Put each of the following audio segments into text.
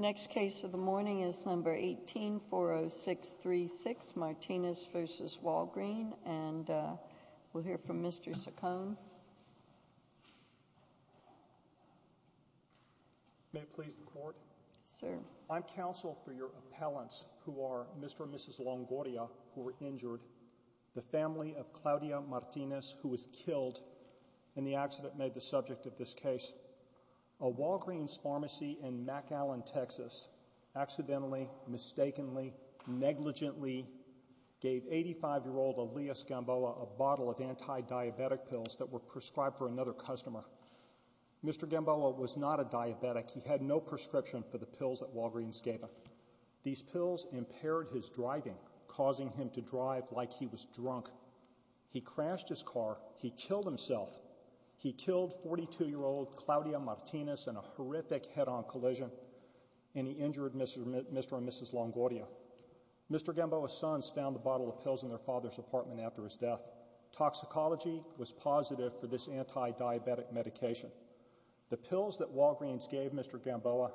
Next case of the morning is number 18-40636, Martinez v. Walgreen, and we'll hear from I'm counsel for your appellants who are Mr. and Mrs. Longoria who were injured, the family of Claudia Martinez who was killed in the accident made the subject of this case. A Walgreens pharmacy in McAllen, Texas accidentally, mistakenly, negligently gave 85-year-old Elias Gamboa a bottle of anti-diabetic pills that were prescribed for another customer. Mr. Gamboa was not a diabetic. He had no prescription for the pills that Walgreens gave him. These pills impaired his driving, causing him to drive like he was drunk. He crashed his car. He killed himself. He killed 42-year-old Claudia Martinez in a horrific head-on collision, and he injured Mr. and Mrs. Longoria. Mr. Gamboa's sons found the bottle of pills in their father's apartment after his death. Toxicology was positive for this anti-diabetic medication. The pills that Walgreens gave Mr. Gamboa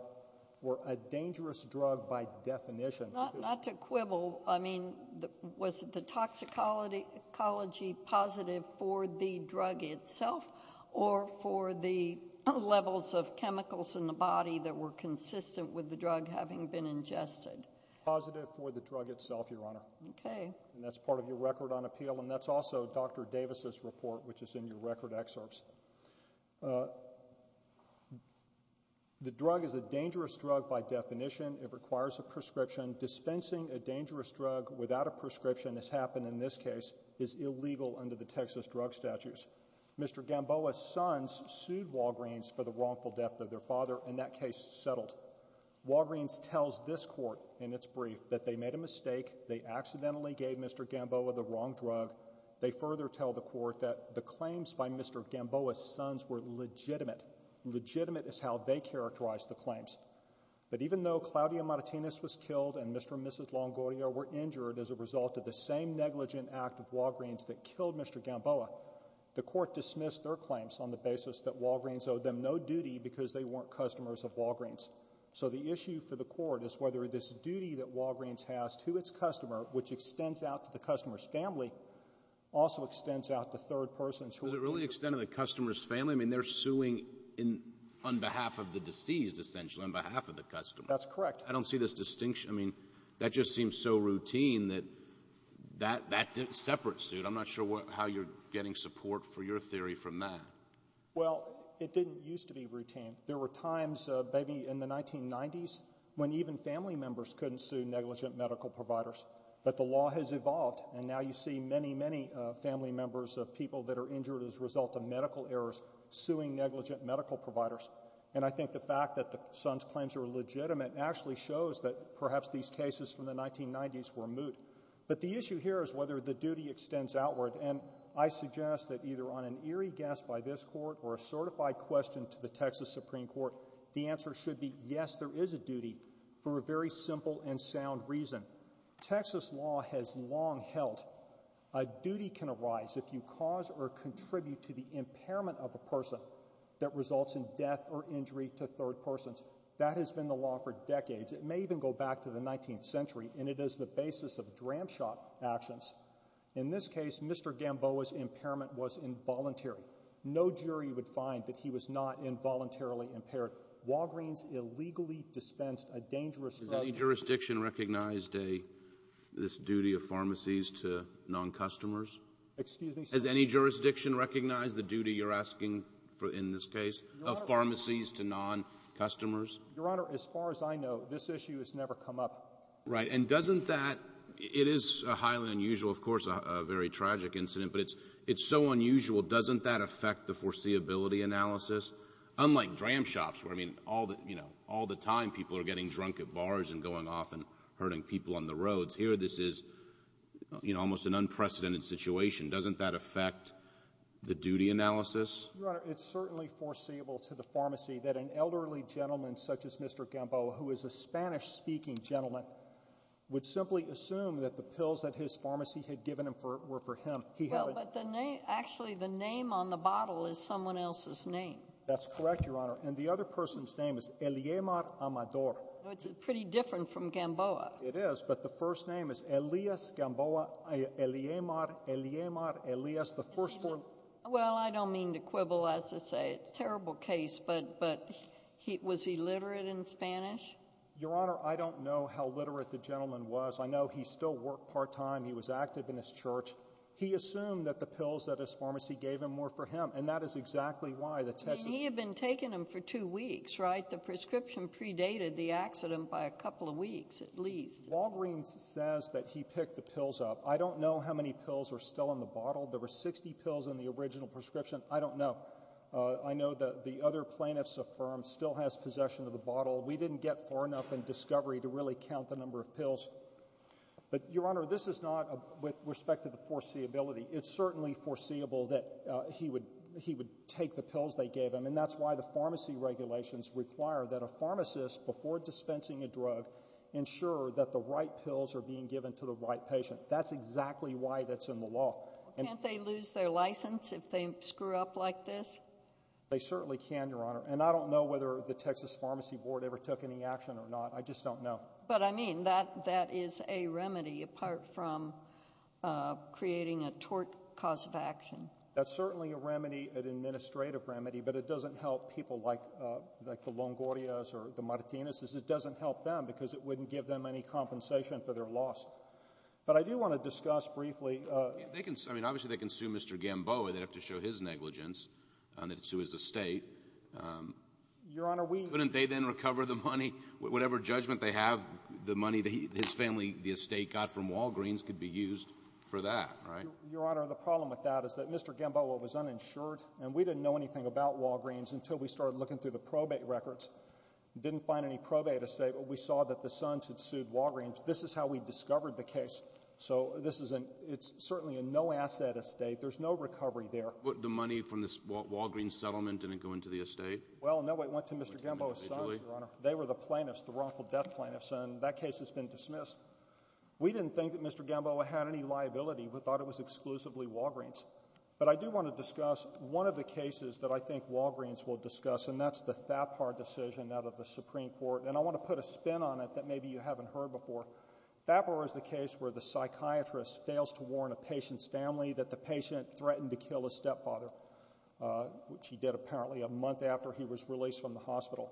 were a dangerous drug by definition. Not to quibble, I mean, was the toxicology positive for the drug itself or for the levels of chemicals in the body that were consistent with the drug having been ingested? Positive for the drug itself, Your Honor. Okay. And that's part of your record on appeal, and that's also Dr. Davis' report, which is in your record excerpts. The drug is a dangerous drug by definition. It requires a prescription. Dispensing a dangerous drug without a prescription, as happened in this case, is illegal under the Texas drug statutes. Mr. Gamboa's sons sued Walgreens for the wrongful death of their father, and that case settled. Walgreens tells this court in its brief that they made a mistake, they accidentally gave Mr. Gamboa the wrong drug. They further tell the court that the claims by Mr. Gamboa's sons were legitimate. Legitimate is how they characterized the claims. But even though Claudia Martinez was killed and Mr. and Mrs. Longoria were injured as a result of the same negligent act of Walgreens that killed Mr. Gamboa, the court dismissed their claims on the basis that Walgreens owed them no duty because they weren't customers of Walgreens. So the issue for the court is whether this duty that Walgreens has to its customer, which extends out to the customer's family, also extends out to third persons who are— Does it really extend to the customer's family? I mean, they're suing on behalf of the deceased, essentially, on behalf of the customer. That's correct. I don't see this distinction. I mean, that just seems so routine that that separate suit. I'm not sure how you're getting support for your theory from that. Well, it didn't used to be routine. There were times maybe in the 1990s when even family members couldn't sue negligent medical providers. But the law has evolved, and now you see many, many family members of people that are injured as a result of medical errors suing negligent medical providers. And I think the fact that the sons' claims are legitimate actually shows that perhaps these cases from the 1990s were moot. But the issue here is whether the duty extends outward, and I suggest that either on an eerie guess by this court or a certified question to the Texas Supreme Court, the answer should be yes, there is a duty for a very simple and sound reason. Texas law has long held a duty can arise if you cause or contribute to the impairment of a person that results in death or injury to third persons. That has been the law for decades. It may even go back to the 19th century, and it is the basis of dram shot actions. In this case, Mr. Gamboa's impairment was involuntary. No jury would find that he was not involuntarily impaired. Walgreens illegally dispensed a dangerous drug. Has any jurisdiction recognized this duty of pharmacies to non-customers? Excuse me, sir? Has any jurisdiction recognized the duty you're asking for in this case of pharmacies to non-customers? Your Honor, as far as I know, this issue has never come up. Right. And doesn't that — it is highly unusual, of course, a very tragic incident, but it's so unusual. Doesn't that affect the foreseeability analysis? Unlike dram shops where, I mean, all the time people are getting drunk at bars and going off and hurting people on the roads, here this is almost an unprecedented situation. Doesn't that affect the duty analysis? Your Honor, it's certainly foreseeable to the pharmacy that an elderly gentleman such as Mr. Gamboa, who is a Spanish-speaking gentleman, would simply assume that the pills that his pharmacy had given him were for him. Well, but the name — actually, the name on the bottle is someone else's name. That's correct, Your Honor. And the other person's name is Eliemar Amador. It's pretty different from Gamboa. It is, but the first name is Elias Gamboa. Eliemar, Eliemar, Elias, the first four — Well, I don't mean to quibble, as I say. It's a terrible case, but was he literate in Spanish? Your Honor, I don't know how literate the gentleman was. I know he still worked part-time. He was active in his church. He assumed that the pills that his pharmacy gave him were for him, and that is exactly why the Texas — I mean, he had been taking them for two weeks, right? The prescription predated the accident by a couple of weeks at least. Walgreens says that he picked the pills up. I don't know how many pills are still in the bottle. There were 60 pills in the original prescription. I don't know. I know that the other plaintiffs affirmed still has possession of the bottle. We didn't get far enough in discovery to really count the number of pills. But, Your Honor, this is not with respect to the foreseeability. It's certainly foreseeable that he would take the pills they gave him, and that's why the pharmacy regulations require that a pharmacist, before dispensing a drug, ensure that the right pills are being given to the right patient. That's exactly why that's in the law. Can't they lose their license if they screw up like this? They certainly can, Your Honor, and I don't know whether the Texas Pharmacy Board ever took any action or not. I just don't know. But, I mean, that is a remedy apart from creating a tort cause of action. That's certainly a remedy, an administrative remedy, but it doesn't help people like the Longoria's or the Martinez's. It doesn't help them because it wouldn't give them any compensation for their loss. But I do want to discuss briefly. I mean, obviously they can sue Mr. Gamboa. They'd have to show his negligence and then sue his estate. Your Honor, we— The money that his family, the estate, got from Walgreens could be used for that, right? Your Honor, the problem with that is that Mr. Gamboa was uninsured, and we didn't know anything about Walgreens until we started looking through the probate records. Didn't find any probate estate, but we saw that the Sons had sued Walgreens. This is how we discovered the case. So this is a—it's certainly a no-asset estate. There's no recovery there. But the money from the Walgreens settlement didn't go into the estate? Well, no, it went to Mr. Gamboa's Sons, Your Honor. They were the plaintiffs, the wrongful death plaintiffs, and that case has been dismissed. We didn't think that Mr. Gamboa had any liability. We thought it was exclusively Walgreens. But I do want to discuss one of the cases that I think Walgreens will discuss, and that's the Thapar decision out of the Supreme Court. And I want to put a spin on it that maybe you haven't heard before. Thapar is the case where the psychiatrist fails to warn a patient's family that the patient threatened to kill his stepfather, which he did apparently a month after he was released from the hospital.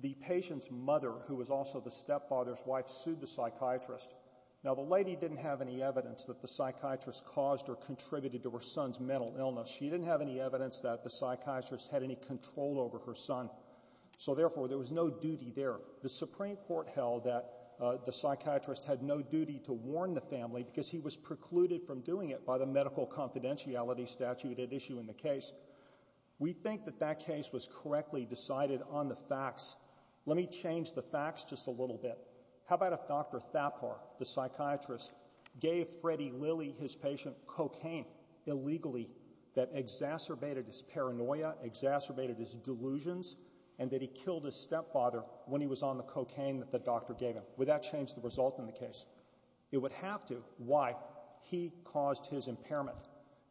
The patient's mother, who was also the stepfather's wife, sued the psychiatrist. Now, the lady didn't have any evidence that the psychiatrist caused or contributed to her son's mental illness. She didn't have any evidence that the psychiatrist had any control over her son. So, therefore, there was no duty there. The Supreme Court held that the psychiatrist had no duty to warn the family because he was precluded from doing it by the medical confidentiality statute at issue in the case. We think that that case was correctly decided on the facts. Let me change the facts just a little bit. How about if Dr. Thapar, the psychiatrist, gave Freddie Lilly, his patient, cocaine illegally that exacerbated his paranoia, exacerbated his delusions, and that he killed his stepfather when he was on the cocaine that the doctor gave him? Would that change the result in the case? It would have to. Why? He caused his impairment.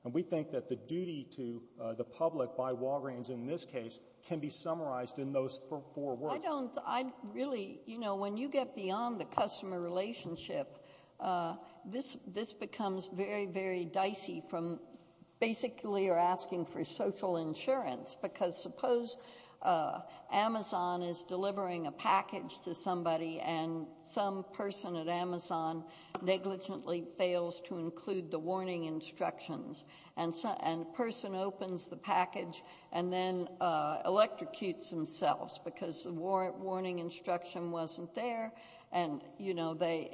And we think that the duty to the public by Walgreens in this case can be summarized in those four words. I don't — I really — you know, when you get beyond the customer relationship, this becomes very, very dicey from basically you're asking for social insurance because suppose Amazon is delivering a package to somebody and some person at Amazon negligently fails to include the warning instructions. And the person opens the package and then electrocutes themselves because the warning instruction wasn't there. And, you know, the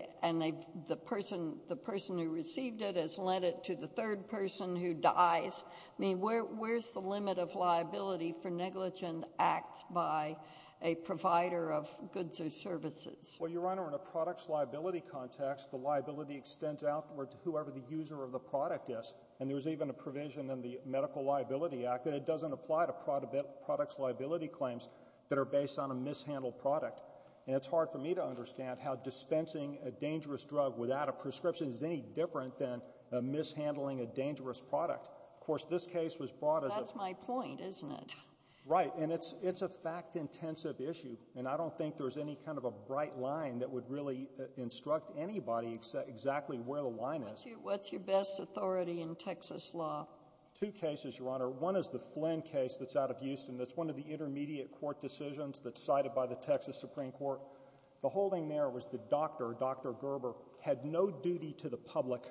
person who received it has lent it to the third person who dies. I mean, where's the limit of liability for negligent acts by a provider of goods or services? Well, Your Honor, in a products liability context, the liability extends outward to whoever the user of the product is. And there's even a provision in the Medical Liability Act that it doesn't apply to products liability claims that are based on a mishandled product. And it's hard for me to understand how dispensing a dangerous drug without a prescription is any different than mishandling a dangerous product. Of course, this case was brought as a— That's my point, isn't it? Right. And it's a fact-intensive issue. And I don't think there's any kind of a bright line that would really instruct anybody exactly where the line is. What's your best authority in Texas law? Two cases, Your Honor. One is the Flynn case that's out of Houston. That's one of the intermediate court decisions that's cited by the Texas Supreme Court. The holding there was the doctor, Dr. Gerber, had no duty to the public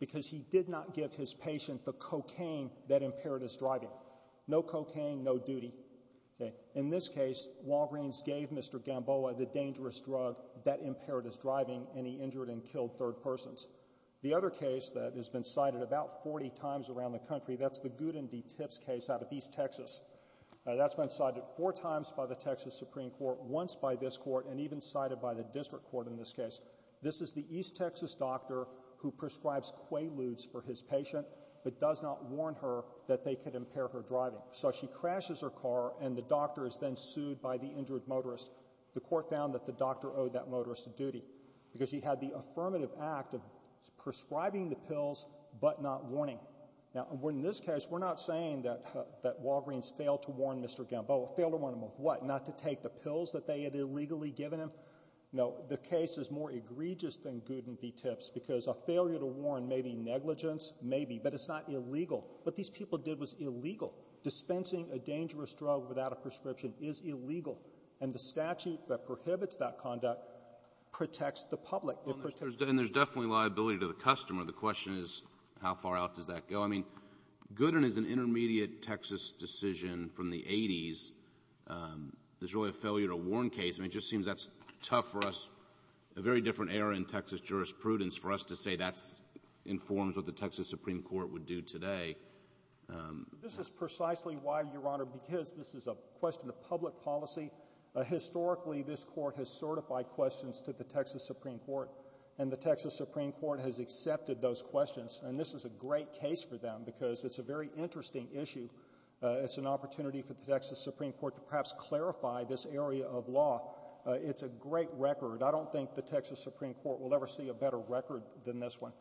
because he did not give his patient the cocaine that impaired his driving. No cocaine, no duty. In this case, Walgreens gave Mr. Gamboa the dangerous drug that impaired his driving, and he injured and killed third persons. The other case that has been cited about 40 times around the country, that's the Goodin v. Tips case out of East Texas. That's been cited four times by the Texas Supreme Court, once by this court, and even cited by the district court in this case. This is the East Texas doctor who prescribes Quaaludes for his patient but does not warn her that they could impair her driving. So she crashes her car, and the doctor is then sued by the injured motorist. The court found that the doctor owed that motorist a duty because he had the affirmative act of prescribing the pills but not warning. Now, in this case, we're not saying that Walgreens failed to warn Mr. Gamboa. Failed to warn him of what? Not to take the pills that they had illegally given him? No. The case is more egregious than Goodin v. Tips because a failure to warn may be negligence, may be, but it's not illegal. What these people did was illegal. Dispensing a dangerous drug without a prescription is illegal. And the statute that prohibits that conduct protects the public. It protects the public. And there's definitely liability to the customer. The question is, how far out does that go? I mean, Goodin is an intermediate Texas decision from the 80s. There's really a failure to warn case. I mean, it just seems that's tough for us, a very different era in Texas jurisprudence, for us to say that informs what the Texas Supreme Court would do today. This is precisely why, Your Honor, because this is a question of public policy. Historically, this court has certified questions to the Texas Supreme Court, and the Texas Supreme Court has accepted those questions. And this is a great case for them because it's a very interesting issue. It's an opportunity for the Texas Supreme Court to perhaps clarify this area of law. It's a great record. I don't think the Texas Supreme Court will ever see a better record than this one.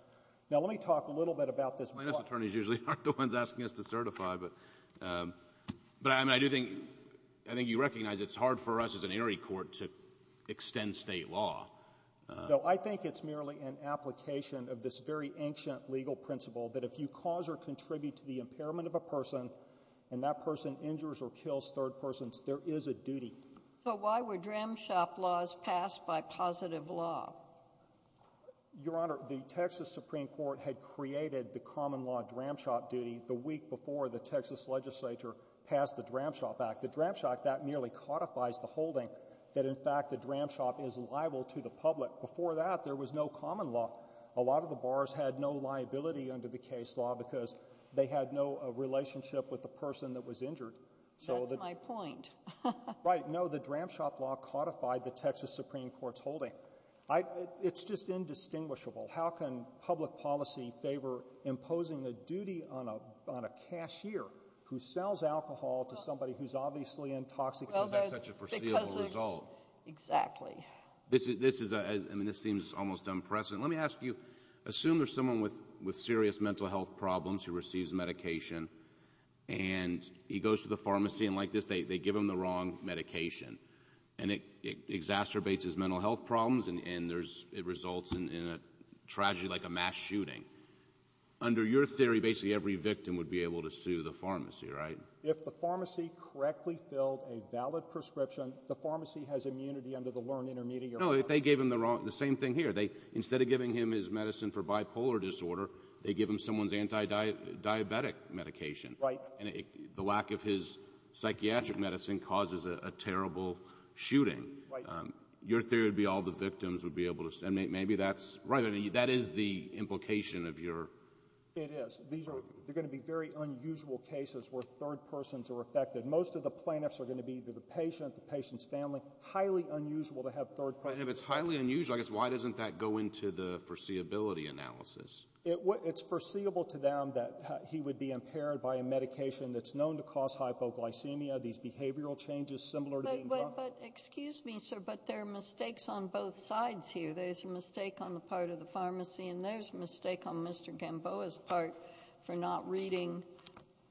Now, let me talk a little bit about this. Plaintiffs' attorneys usually aren't the ones asking us to certify. But, I mean, I do think you recognize it's hard for us as an area court to extend state law. No, I think it's merely an application of this very ancient legal principle that if you cause or contribute to the impairment of a person and that person injures or kills third persons, there is a duty. So why were Dram Shop laws passed by positive law? Your Honor, the Texas Supreme Court had created the common law Dram Shop duty the week before the Texas legislature passed the Dram Shop Act. The Dram Shop, that merely codifies the holding that, in fact, the Dram Shop is liable to the public. Before that, there was no common law. A lot of the bars had no liability under the case law because they had no relationship with the person that was injured. That's my point. Right. No, the Dram Shop law codified the Texas Supreme Court's holding. It's just indistinguishable. How can public policy favor imposing a duty on a cashier who sells alcohol to somebody who's obviously intoxicated? Well, that's such a foreseeable result. Exactly. This seems almost unprecedented. Let me ask you, assume there's someone with serious mental health problems who receives medication and he goes to the pharmacy and, like this, they give him the wrong medication and it exacerbates his mental health problems and it results in a tragedy like a mass shooting. Under your theory, basically every victim would be able to sue the pharmacy, right? If the pharmacy correctly filled a valid prescription, the pharmacy has immunity under the learned intermediary. No, if they gave him the same thing here. Instead of giving him his medicine for bipolar disorder, they give him someone's anti-diabetic medication. Right. And the lack of his psychiatric medicine causes a terrible shooting. Right. Your theory would be all the victims would be able to sue. Maybe that's right. That is the implication of your theory. It is. There are going to be very unusual cases where third persons are affected. Most of the plaintiffs are going to be the patient, the patient's family. Highly unusual to have third persons. And if it's highly unusual, I guess why doesn't that go into the foreseeability analysis? It's foreseeable to them that he would be impaired by a medication that's known to cause hypoglycemia, these behavioral changes similar to being drunk. But excuse me, sir, but there are mistakes on both sides here. There's a mistake on the part of the pharmacy and there's a mistake on Mr. Gamboa's part for not reading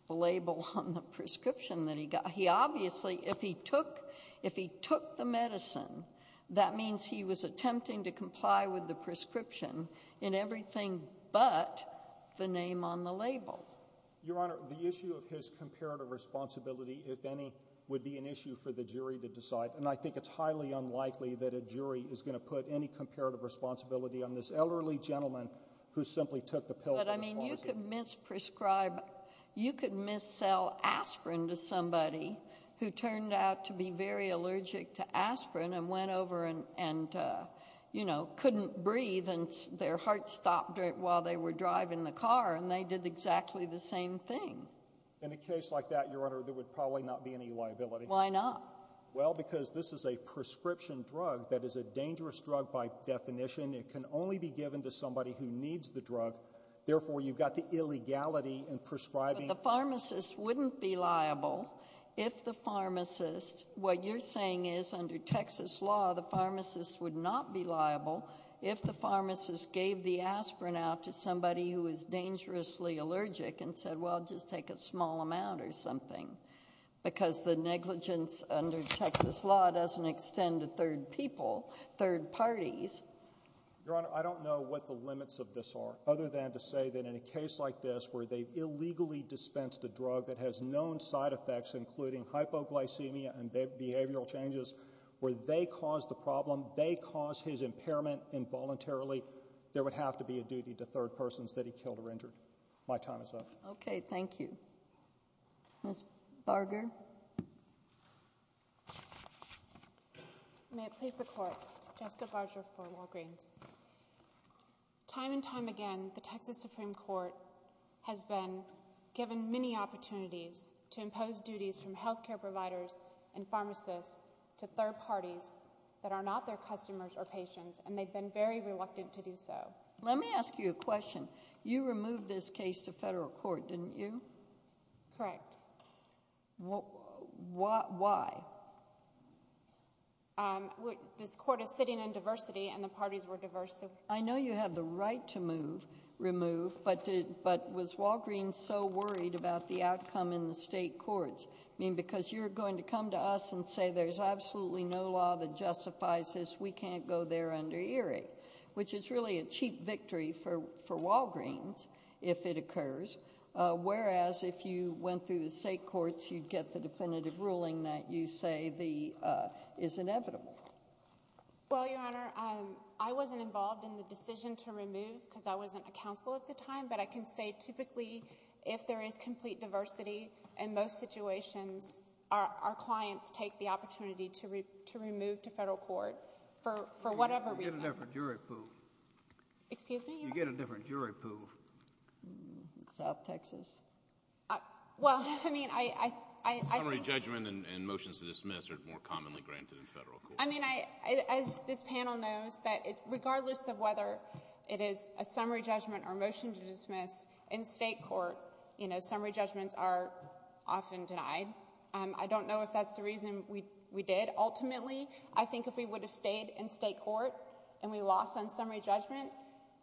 the label on the prescription that he got. He obviously, if he took the medicine, that means he was attempting to comply with the prescription in everything but the name on the label. Your Honor, the issue of his comparative responsibility, if any, would be an issue for the jury to decide, and I think it's highly unlikely that a jury is going to put any comparative responsibility on this elderly gentleman who simply took the pill for responsibility. But, I mean, you could mis-prescribe, you could mis-sell aspirin to somebody who turned out to be very allergic to aspirin and went over and, you know, couldn't breathe and their heart stopped while they were driving the car and they did exactly the same thing. In a case like that, Your Honor, there would probably not be any liability. Why not? Well, because this is a prescription drug that is a dangerous drug by definition. It can only be given to somebody who needs the drug. Therefore, you've got the illegality in prescribing. But the pharmacist wouldn't be liable if the pharmacist, what you're saying is under Texas law the pharmacist would not be liable if the pharmacist gave the aspirin out to somebody who is dangerously allergic and said, well, just take a small amount or something. Because the negligence under Texas law doesn't extend to third people, third parties. Your Honor, I don't know what the limits of this are, other than to say that in a case like this where they've illegally dispensed a drug that has known side effects including hypoglycemia and behavioral changes, where they caused the problem, they caused his impairment involuntarily, there would have to be a duty to third persons that he killed or injured. My time is up. Okay, thank you. Ms. Barger. May it please the Court. Jessica Barger for Walgreens. Time and time again, the Texas Supreme Court has been given many opportunities to impose duties from health care providers and pharmacists to third parties that are not their customers or patients, and they've been very reluctant to do so. Let me ask you a question. You removed this case to federal court, didn't you? Correct. Why? This court is sitting in diversity, and the parties were diverse. I know you have the right to remove, but was Walgreens so worried about the outcome in the state courts? I mean, because you're going to come to us and say there's absolutely no law that justifies this, and we can't go there under Erie, which is really a cheap victory for Walgreens if it occurs, whereas if you went through the state courts, you'd get the definitive ruling that you say is inevitable. Well, Your Honor, I wasn't involved in the decision to remove because I wasn't a counsel at the time, but I can say typically if there is complete diversity in most situations, our clients take the opportunity to remove to federal court for whatever reason. You get a different jury pool. Excuse me? You get a different jury pool. South Texas. Well, I mean, I think— Summary judgment and motions to dismiss are more commonly granted in federal court. I mean, as this panel knows, regardless of whether it is a summary judgment or a motion to dismiss, in state court, you know, summary judgments are often denied. I don't know if that's the reason we did. Ultimately, I think if we would have stayed in state court and we lost on summary judgment,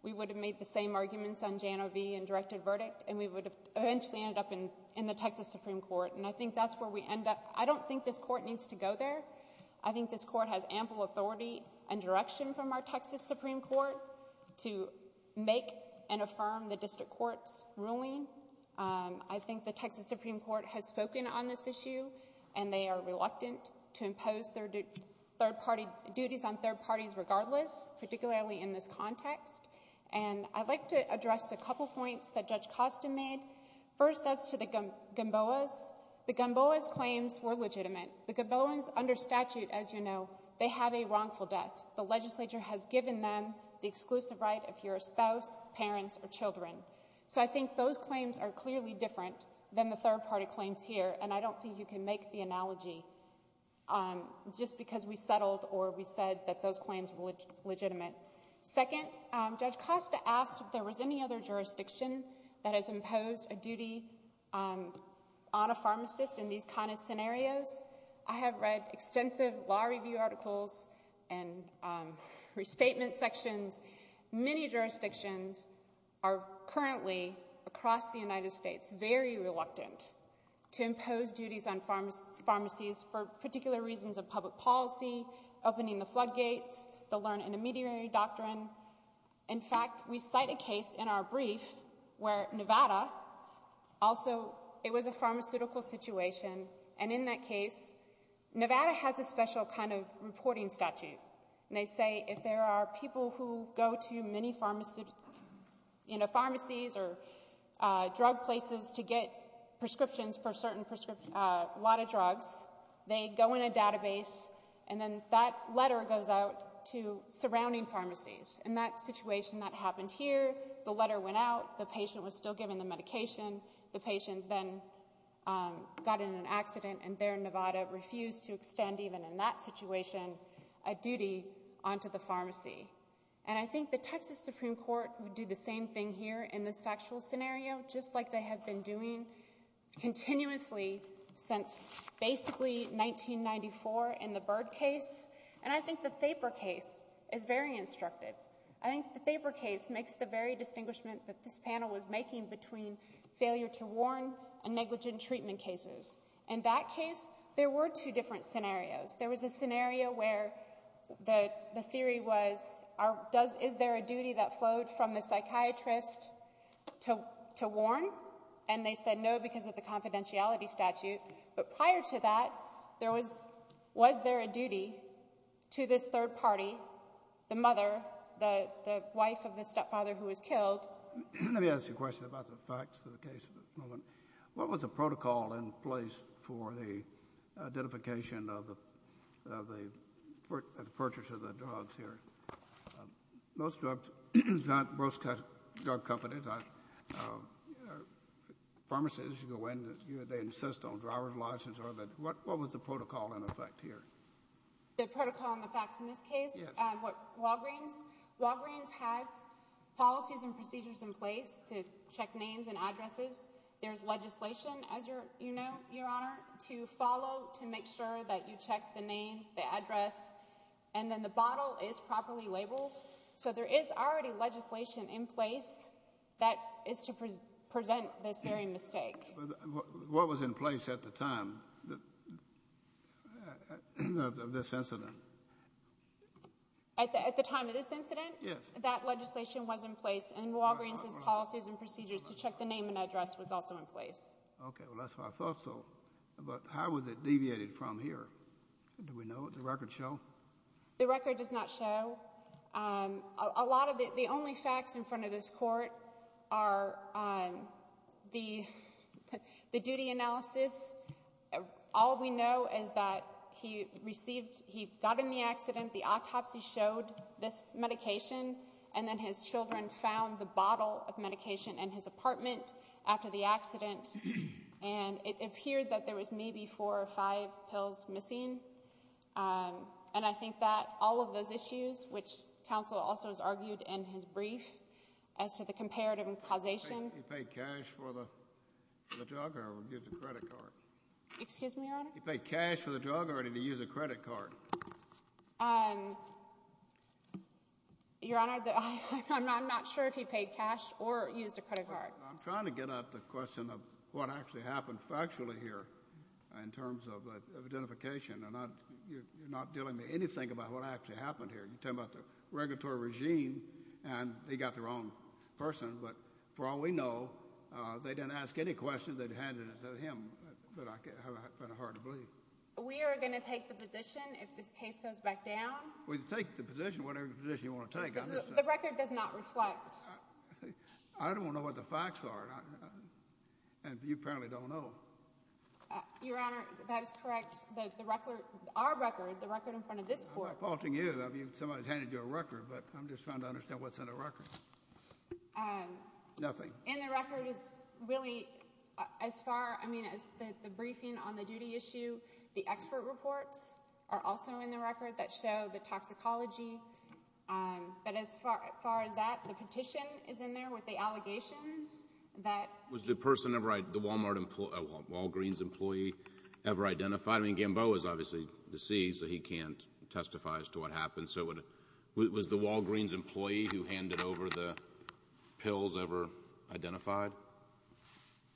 we would have made the same arguments on Jano v. and directed verdict, and we would have eventually ended up in the Texas Supreme Court, and I think that's where we end up. I don't think this court needs to go there. I think this court has ample authority and direction from our Texas Supreme Court to make and affirm the district court's ruling. I think the Texas Supreme Court has spoken on this issue, and they are reluctant to impose their duties on third parties regardless, particularly in this context. And I'd like to address a couple points that Judge Costin made. First, as to the Gamboas, the Gamboas' claims were legitimate. The Gamboas, under statute, as you know, they have a wrongful death. The legislature has given them the exclusive right of your spouse, parents, or children. So I think those claims are clearly different than the third-party claims here, and I don't think you can make the analogy just because we settled or we said that those claims were legitimate. Second, Judge Costa asked if there was any other jurisdiction that has imposed a duty on a pharmacist in these kind of scenarios. I have read extensive law review articles and restatement sections. Many jurisdictions are currently across the United States very reluctant to impose duties on pharmacies for particular reasons of public policy, opening the floodgates, the learn-in-a-mediary doctrine. In fact, we cite a case in our brief where Nevada also, it was a pharmaceutical situation, and in that case, Nevada has a special kind of reporting statute. They say if there are people who go to many pharmacies or drug places to get prescriptions for a lot of drugs, they go in a database, and then that letter goes out to surrounding pharmacies. In that situation that happened here, the letter went out, the patient was still given the medication, the patient then got in an accident, and there Nevada refused to extend even in that situation a duty onto the pharmacy. And I think the Texas Supreme Court would do the same thing here in this factual scenario, just like they have been doing continuously since basically 1994 in the Byrd case, and I think the Thaper case is very instructive. I think the Thaper case makes the very distinguishment that this panel was making between failure to warn and negligent treatment cases. In that case, there were two different scenarios. There was a scenario where the theory was is there a duty that flowed from the psychiatrist to warn, and they said no because of the confidentiality statute. But prior to that, was there a duty to this third party, the mother, the wife of the stepfather who was killed? Let me ask you a question about the facts of the case. What was the protocol in place for the identification of the purchase of the drugs here? Most drugs, not most drug companies, pharmacists, they insist on a driver's license. What was the protocol in effect here? The protocol and the facts in this case? Yes. Walgreens has policies and procedures in place to check names and addresses. There's legislation, as you know, Your Honor, to follow to make sure that you check the name, the address, and then the bottle is properly labeled. So there is already legislation in place that is to present this very mistake. What was in place at the time of this incident? At the time of this incident? Yes. That legislation was in place, and Walgreens' policies and procedures to check the name and address was also in place. Okay. Well, that's why I thought so. But how was it deviated from here? Do we know? Does the record show? The record does not show. A lot of it, the only facts in front of this Court are the duty analysis. All we know is that he received, he got in the accident, the autopsy showed this medication, and then his children found the bottle of medication in his apartment after the accident, and it appeared that there was maybe four or five pills missing. And I think that all of those issues, which counsel also has argued in his brief as to the comparative causation. Did he pay cash for the drug or did he use a credit card? Excuse me, Your Honor? Did he pay cash for the drug or did he use a credit card? Your Honor, I'm not sure if he paid cash or used a credit card. I'm trying to get at the question of what actually happened factually here in terms of identification, and you're not telling me anything about what actually happened here. You're talking about the regulatory regime, and they got the wrong person. But for all we know, they didn't ask any questions. They handed it to him. But I find it hard to believe. We are going to take the position if this case goes back down? We can take the position, whatever position you want to take. The record does not reflect. I don't know what the facts are, and you apparently don't know. Your Honor, that is correct. The record, our record, the record in front of this court. I'm not faulting you. Somebody's handed you a record, but I'm just trying to understand what's in the record. Nothing. In the record is really as far, I mean, as the briefing on the duty issue, the expert reports are also in the record that show the toxicology. But as far as that, the petition is in there with the allegations. Was the person ever, the Walgreens employee ever identified? I mean, Gamboa is obviously deceased, so he can't testify as to what happened. So was the Walgreens employee who handed over the pills ever identified?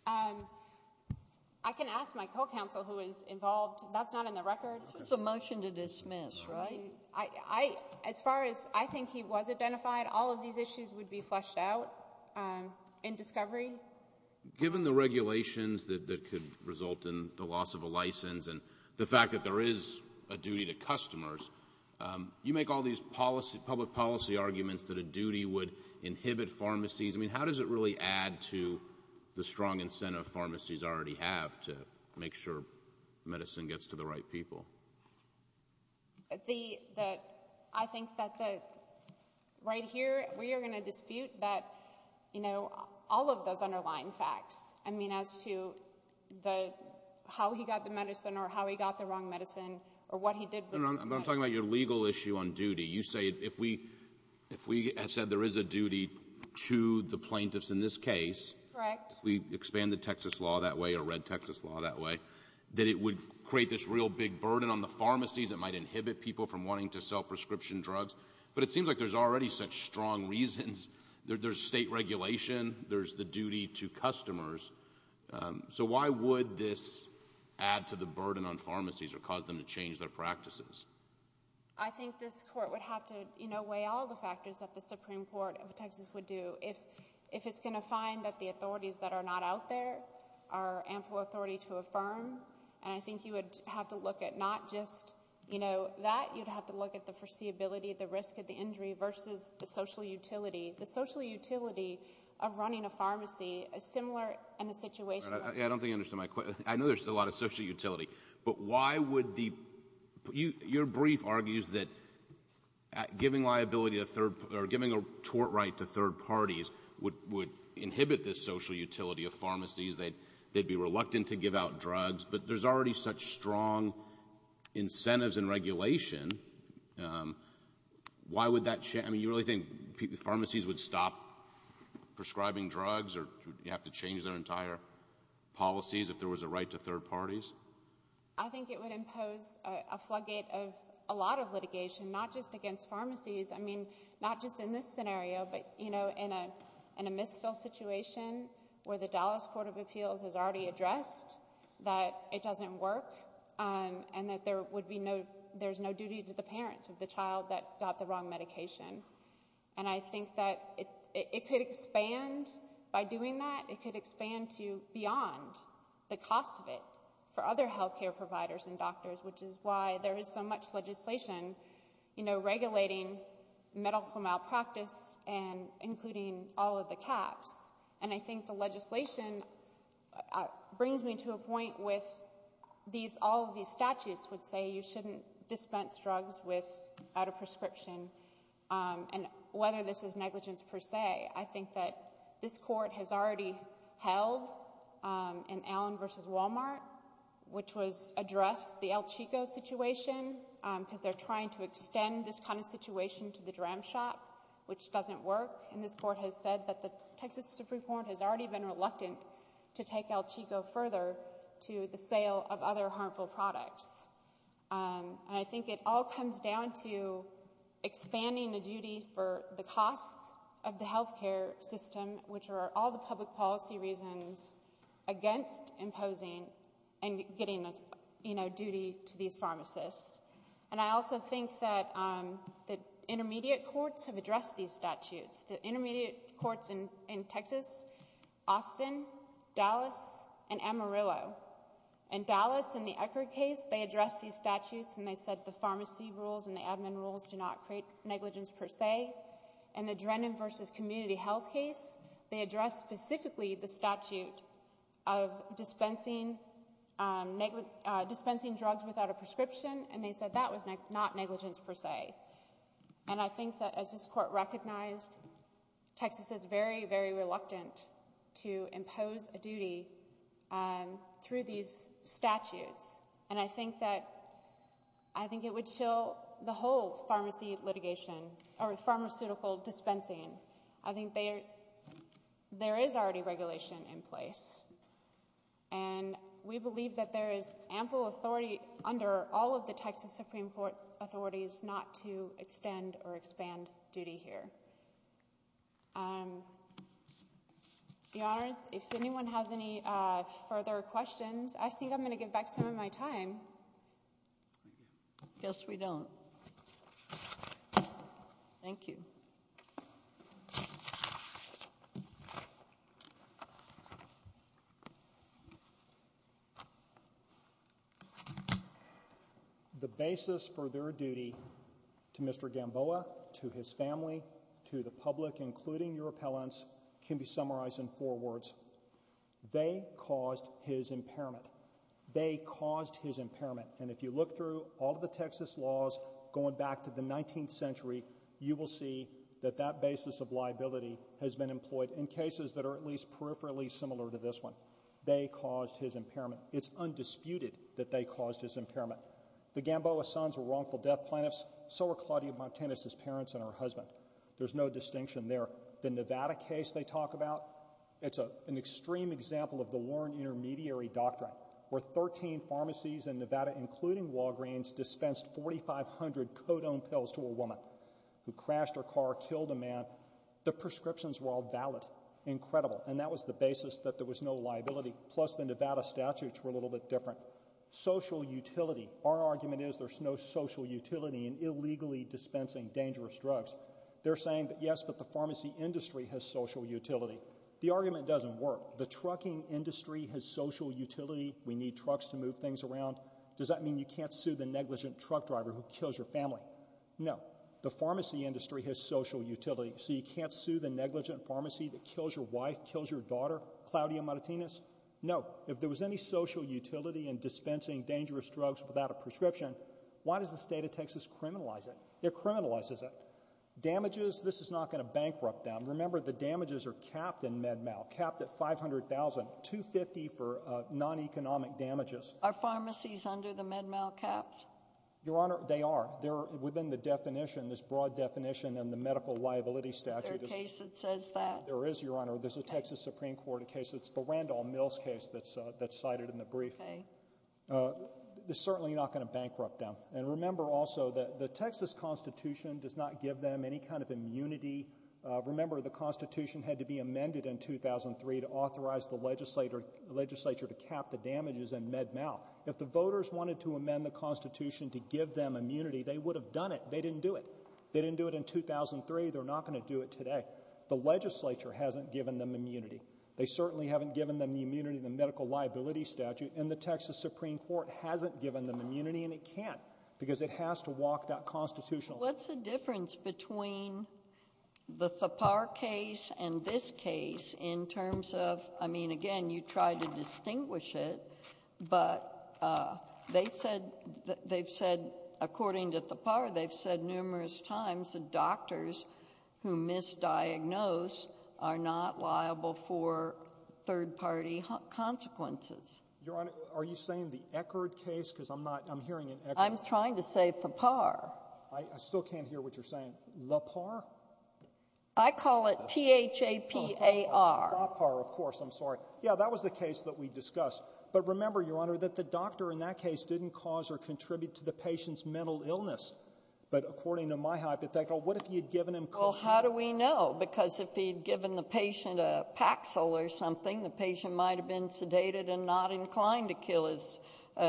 I can ask my co-counsel who is involved. That's not in the record. This was a motion to dismiss, right? As far as I think he was identified, all of these issues would be fleshed out in discovery. Given the regulations that could result in the loss of a license and the fact that there is a duty to customers, you make all these public policy arguments that a duty would inhibit pharmacies. I mean, how does it really add to the strong incentive pharmacies already have to make sure medicine gets to the right people? I think that right here we are going to dispute all of those underlying facts. I mean, as to how he got the medicine or how he got the wrong medicine or what he did with the medicine. I'm talking about your legal issue on duty. You say if we said there is a duty to the plaintiffs in this case, if we expand the Texas law that way or read Texas law that way, that it would create this real big burden on the pharmacies that might inhibit people from wanting to sell prescription drugs. But it seems like there's already such strong reasons. There's state regulation. There's the duty to customers. So why would this add to the burden on pharmacies or cause them to change their practices? I think this court would have to weigh all the factors that the Supreme Court of Texas would do if it's going to find that the authorities that are not out there are ample authority to affirm. And I think you would have to look at not just that. You'd have to look at the foreseeability, the risk of the injury versus the social utility. The social utility of running a pharmacy is similar in the situation. I don't think you understand my question. I know there's a lot of social utility. But why would the ñ your brief argues that giving liability or giving a tort right to third parties would inhibit this social utility of pharmacies. They'd be reluctant to give out drugs. But there's already such strong incentives and regulation. Why would that ñ I mean, you really think pharmacies would stop prescribing drugs or you'd have to change their entire policies if there was a right to third parties? I think it would impose a floodgate of a lot of litigation, not just against pharmacies. I mean, not just in this scenario, but, you know, in a misfill situation where the Dallas Court of Appeals has already addressed that it doesn't work and that there would be no ñ there's no duty to the parents of the child that got the wrong medication. And I think that it could expand by doing that. It could expand to beyond the cost of it for other health care providers and doctors, which is why there is so much legislation, you know, regulating medical malpractice and including all of the caps. And I think the legislation brings me to a point with these ñ you shouldn't dispense drugs without a prescription. And whether this is negligence per se, I think that this court has already held in Allen v. Walmart, which was addressed the El Chico situation, because they're trying to extend this kind of situation to the Dram Shop, which doesn't work. And this court has said that the Texas Supreme Court has already been reluctant to take El Chico further to the sale of other harmful products. And I think it all comes down to expanding the duty for the cost of the health care system, which are all the public policy reasons against imposing and getting, you know, duty to these pharmacists. And I also think that the intermediate courts have addressed these statutes. The intermediate courts in Texas, Austin, Dallas, and Amarillo. In Dallas, in the Eckerd case, they addressed these statutes, and they said the pharmacy rules and the admin rules do not create negligence per se. In the Drennan v. Community Health case, they addressed specifically the statute of dispensing drugs without a prescription, and they said that was not negligence per se. And I think that as this court recognized, Texas is very, very reluctant to impose a duty through these statutes. And I think that it would chill the whole pharmacy litigation or pharmaceutical dispensing. I think there is already regulation in place, and we believe that there is ample authority under all of the Texas Supreme Court authorities not to extend or expand duty here. Your Honors, if anyone has any further questions, I think I'm going to give back some of my time. Yes, we don't. Thank you. The basis for their duty to Mr. Gamboa, to his family, to the public, including your appellants, can be summarized in four words. They caused his impairment. They caused his impairment. And if you look through all of the Texas laws going back to the 19th century, you will see that that basis of liability has been employed in cases that are at least peripherally similar to this one. They caused his impairment. It's undisputed that they caused his impairment. The Gamboa sons were wrongful death plaintiffs. So were Claudia Martinez's parents and her husband. There's no distinction there. The Nevada case they talk about, it's an extreme example of the Warren Intermediary Doctrine, where 13 pharmacies in Nevada, including Walgreens, dispensed 4,500 codone pills to a woman who crashed her car, killed a man. The prescriptions were all valid. Incredible. And that was the basis that there was no liability. Plus, the Nevada statutes were a little bit different. Social utility. Our argument is there's no social utility in illegally dispensing dangerous drugs. They're saying that, yes, but the pharmacy industry has social utility. The argument doesn't work. The trucking industry has social utility. We need trucks to move things around. Does that mean you can't sue the negligent truck driver who kills your family? No. The pharmacy industry has social utility. So you can't sue the negligent pharmacy that kills your wife, kills your daughter, Claudia Martinez? No. If there was any social utility in dispensing dangerous drugs without a prescription, why does the state of Texas criminalize it? It criminalizes it. Damages, this is not going to bankrupt them. Remember, the damages are capped in MedMal, capped at $500,000, $250,000 for non-economic damages. Are pharmacies under the MedMal caps? Your Honor, they are. They're within the definition, this broad definition in the medical liability statute. Is there a case that says that? There is, Your Honor. There's a Texas Supreme Court case. It's the Randall Mills case that's cited in the brief. It's certainly not going to bankrupt them. And remember also that the Texas Constitution does not give them any kind of immunity. Remember, the Constitution had to be amended in 2003 to authorize the legislature to cap the damages in MedMal. If the voters wanted to amend the Constitution to give them immunity, they would have done it. They didn't do it. They didn't do it in 2003. They're not going to do it today. The legislature hasn't given them immunity. They certainly haven't given them the immunity in the medical liability statute. And the Texas Supreme Court hasn't given them immunity, and it can't because it has to walk that constitutional path. What's the difference between the Thapar case and this case in terms of, I mean, again, you tried to distinguish it. But they've said, according to Thapar, they've said numerous times the doctors who misdiagnosed are not liable for third-party consequences. Your Honor, are you saying the Eckerd case? Because I'm not — I'm hearing an Eckerd. I'm trying to say Thapar. I still can't hear what you're saying. Thapar? I call it T-H-A-P-A-R. Thapar, of course. I'm sorry. Yeah, that was the case that we discussed. But remember, Your Honor, that the doctor in that case didn't cause or contribute to the patient's mental illness. But according to my hypothetical, what if he had given him cochlear — Well, how do we know? Because if he had given the patient a Paxil or something, the patient might have been sedated and not inclined to kill his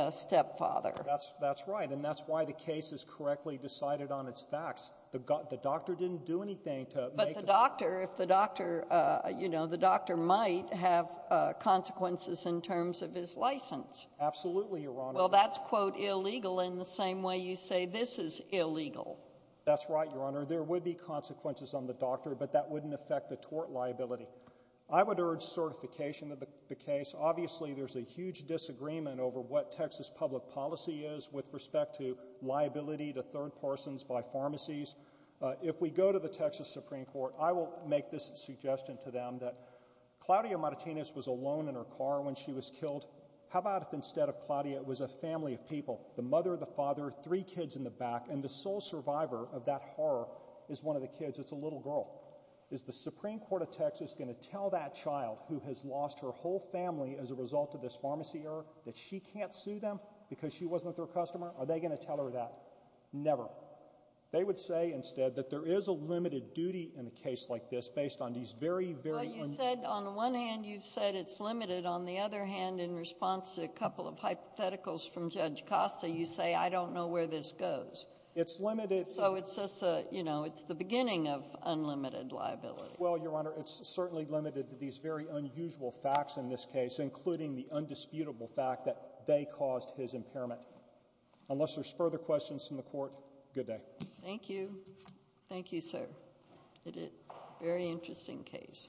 stepfather. That's right. And that's why the case is correctly decided on its facts. The doctor didn't do anything to make the — But the doctor, if the doctor — you know, the doctor might have consequences in terms of his license. Absolutely, Your Honor. Well, that's, quote, illegal in the same way you say this is illegal. That's right, Your Honor. There would be consequences on the doctor, but that wouldn't affect the tort liability. I would urge certification of the case. Obviously, there's a huge disagreement over what Texas public policy is with respect to liability to third persons by pharmacies. If we go to the Texas Supreme Court, I will make this suggestion to them, that Claudia Martinez was alone in her car when she was killed. How about if instead of Claudia, it was a family of people — the mother, the father, three kids in the back, and the sole survivor of that horror is one of the kids. It's a little girl. Is the Supreme Court of Texas going to tell that child, who has lost her whole family as a result of this pharmacy error, that she can't sue them because she wasn't with her customer? Are they going to tell her that? Never. They would say instead that there is a limited duty in a case like this based on these very, very — Well, you said — on the one hand, you said it's limited. On the other hand, in response to a couple of hypotheticals from Judge Costa, you say, I don't know where this goes. It's limited — So it's just a — you know, it's the beginning of unlimited liability. Well, Your Honor, it's certainly limited to these very unusual facts in this case, including the undisputable fact that they caused his impairment. Unless there's further questions from the Court, good day. Thank you. Thank you, sir. Very interesting case.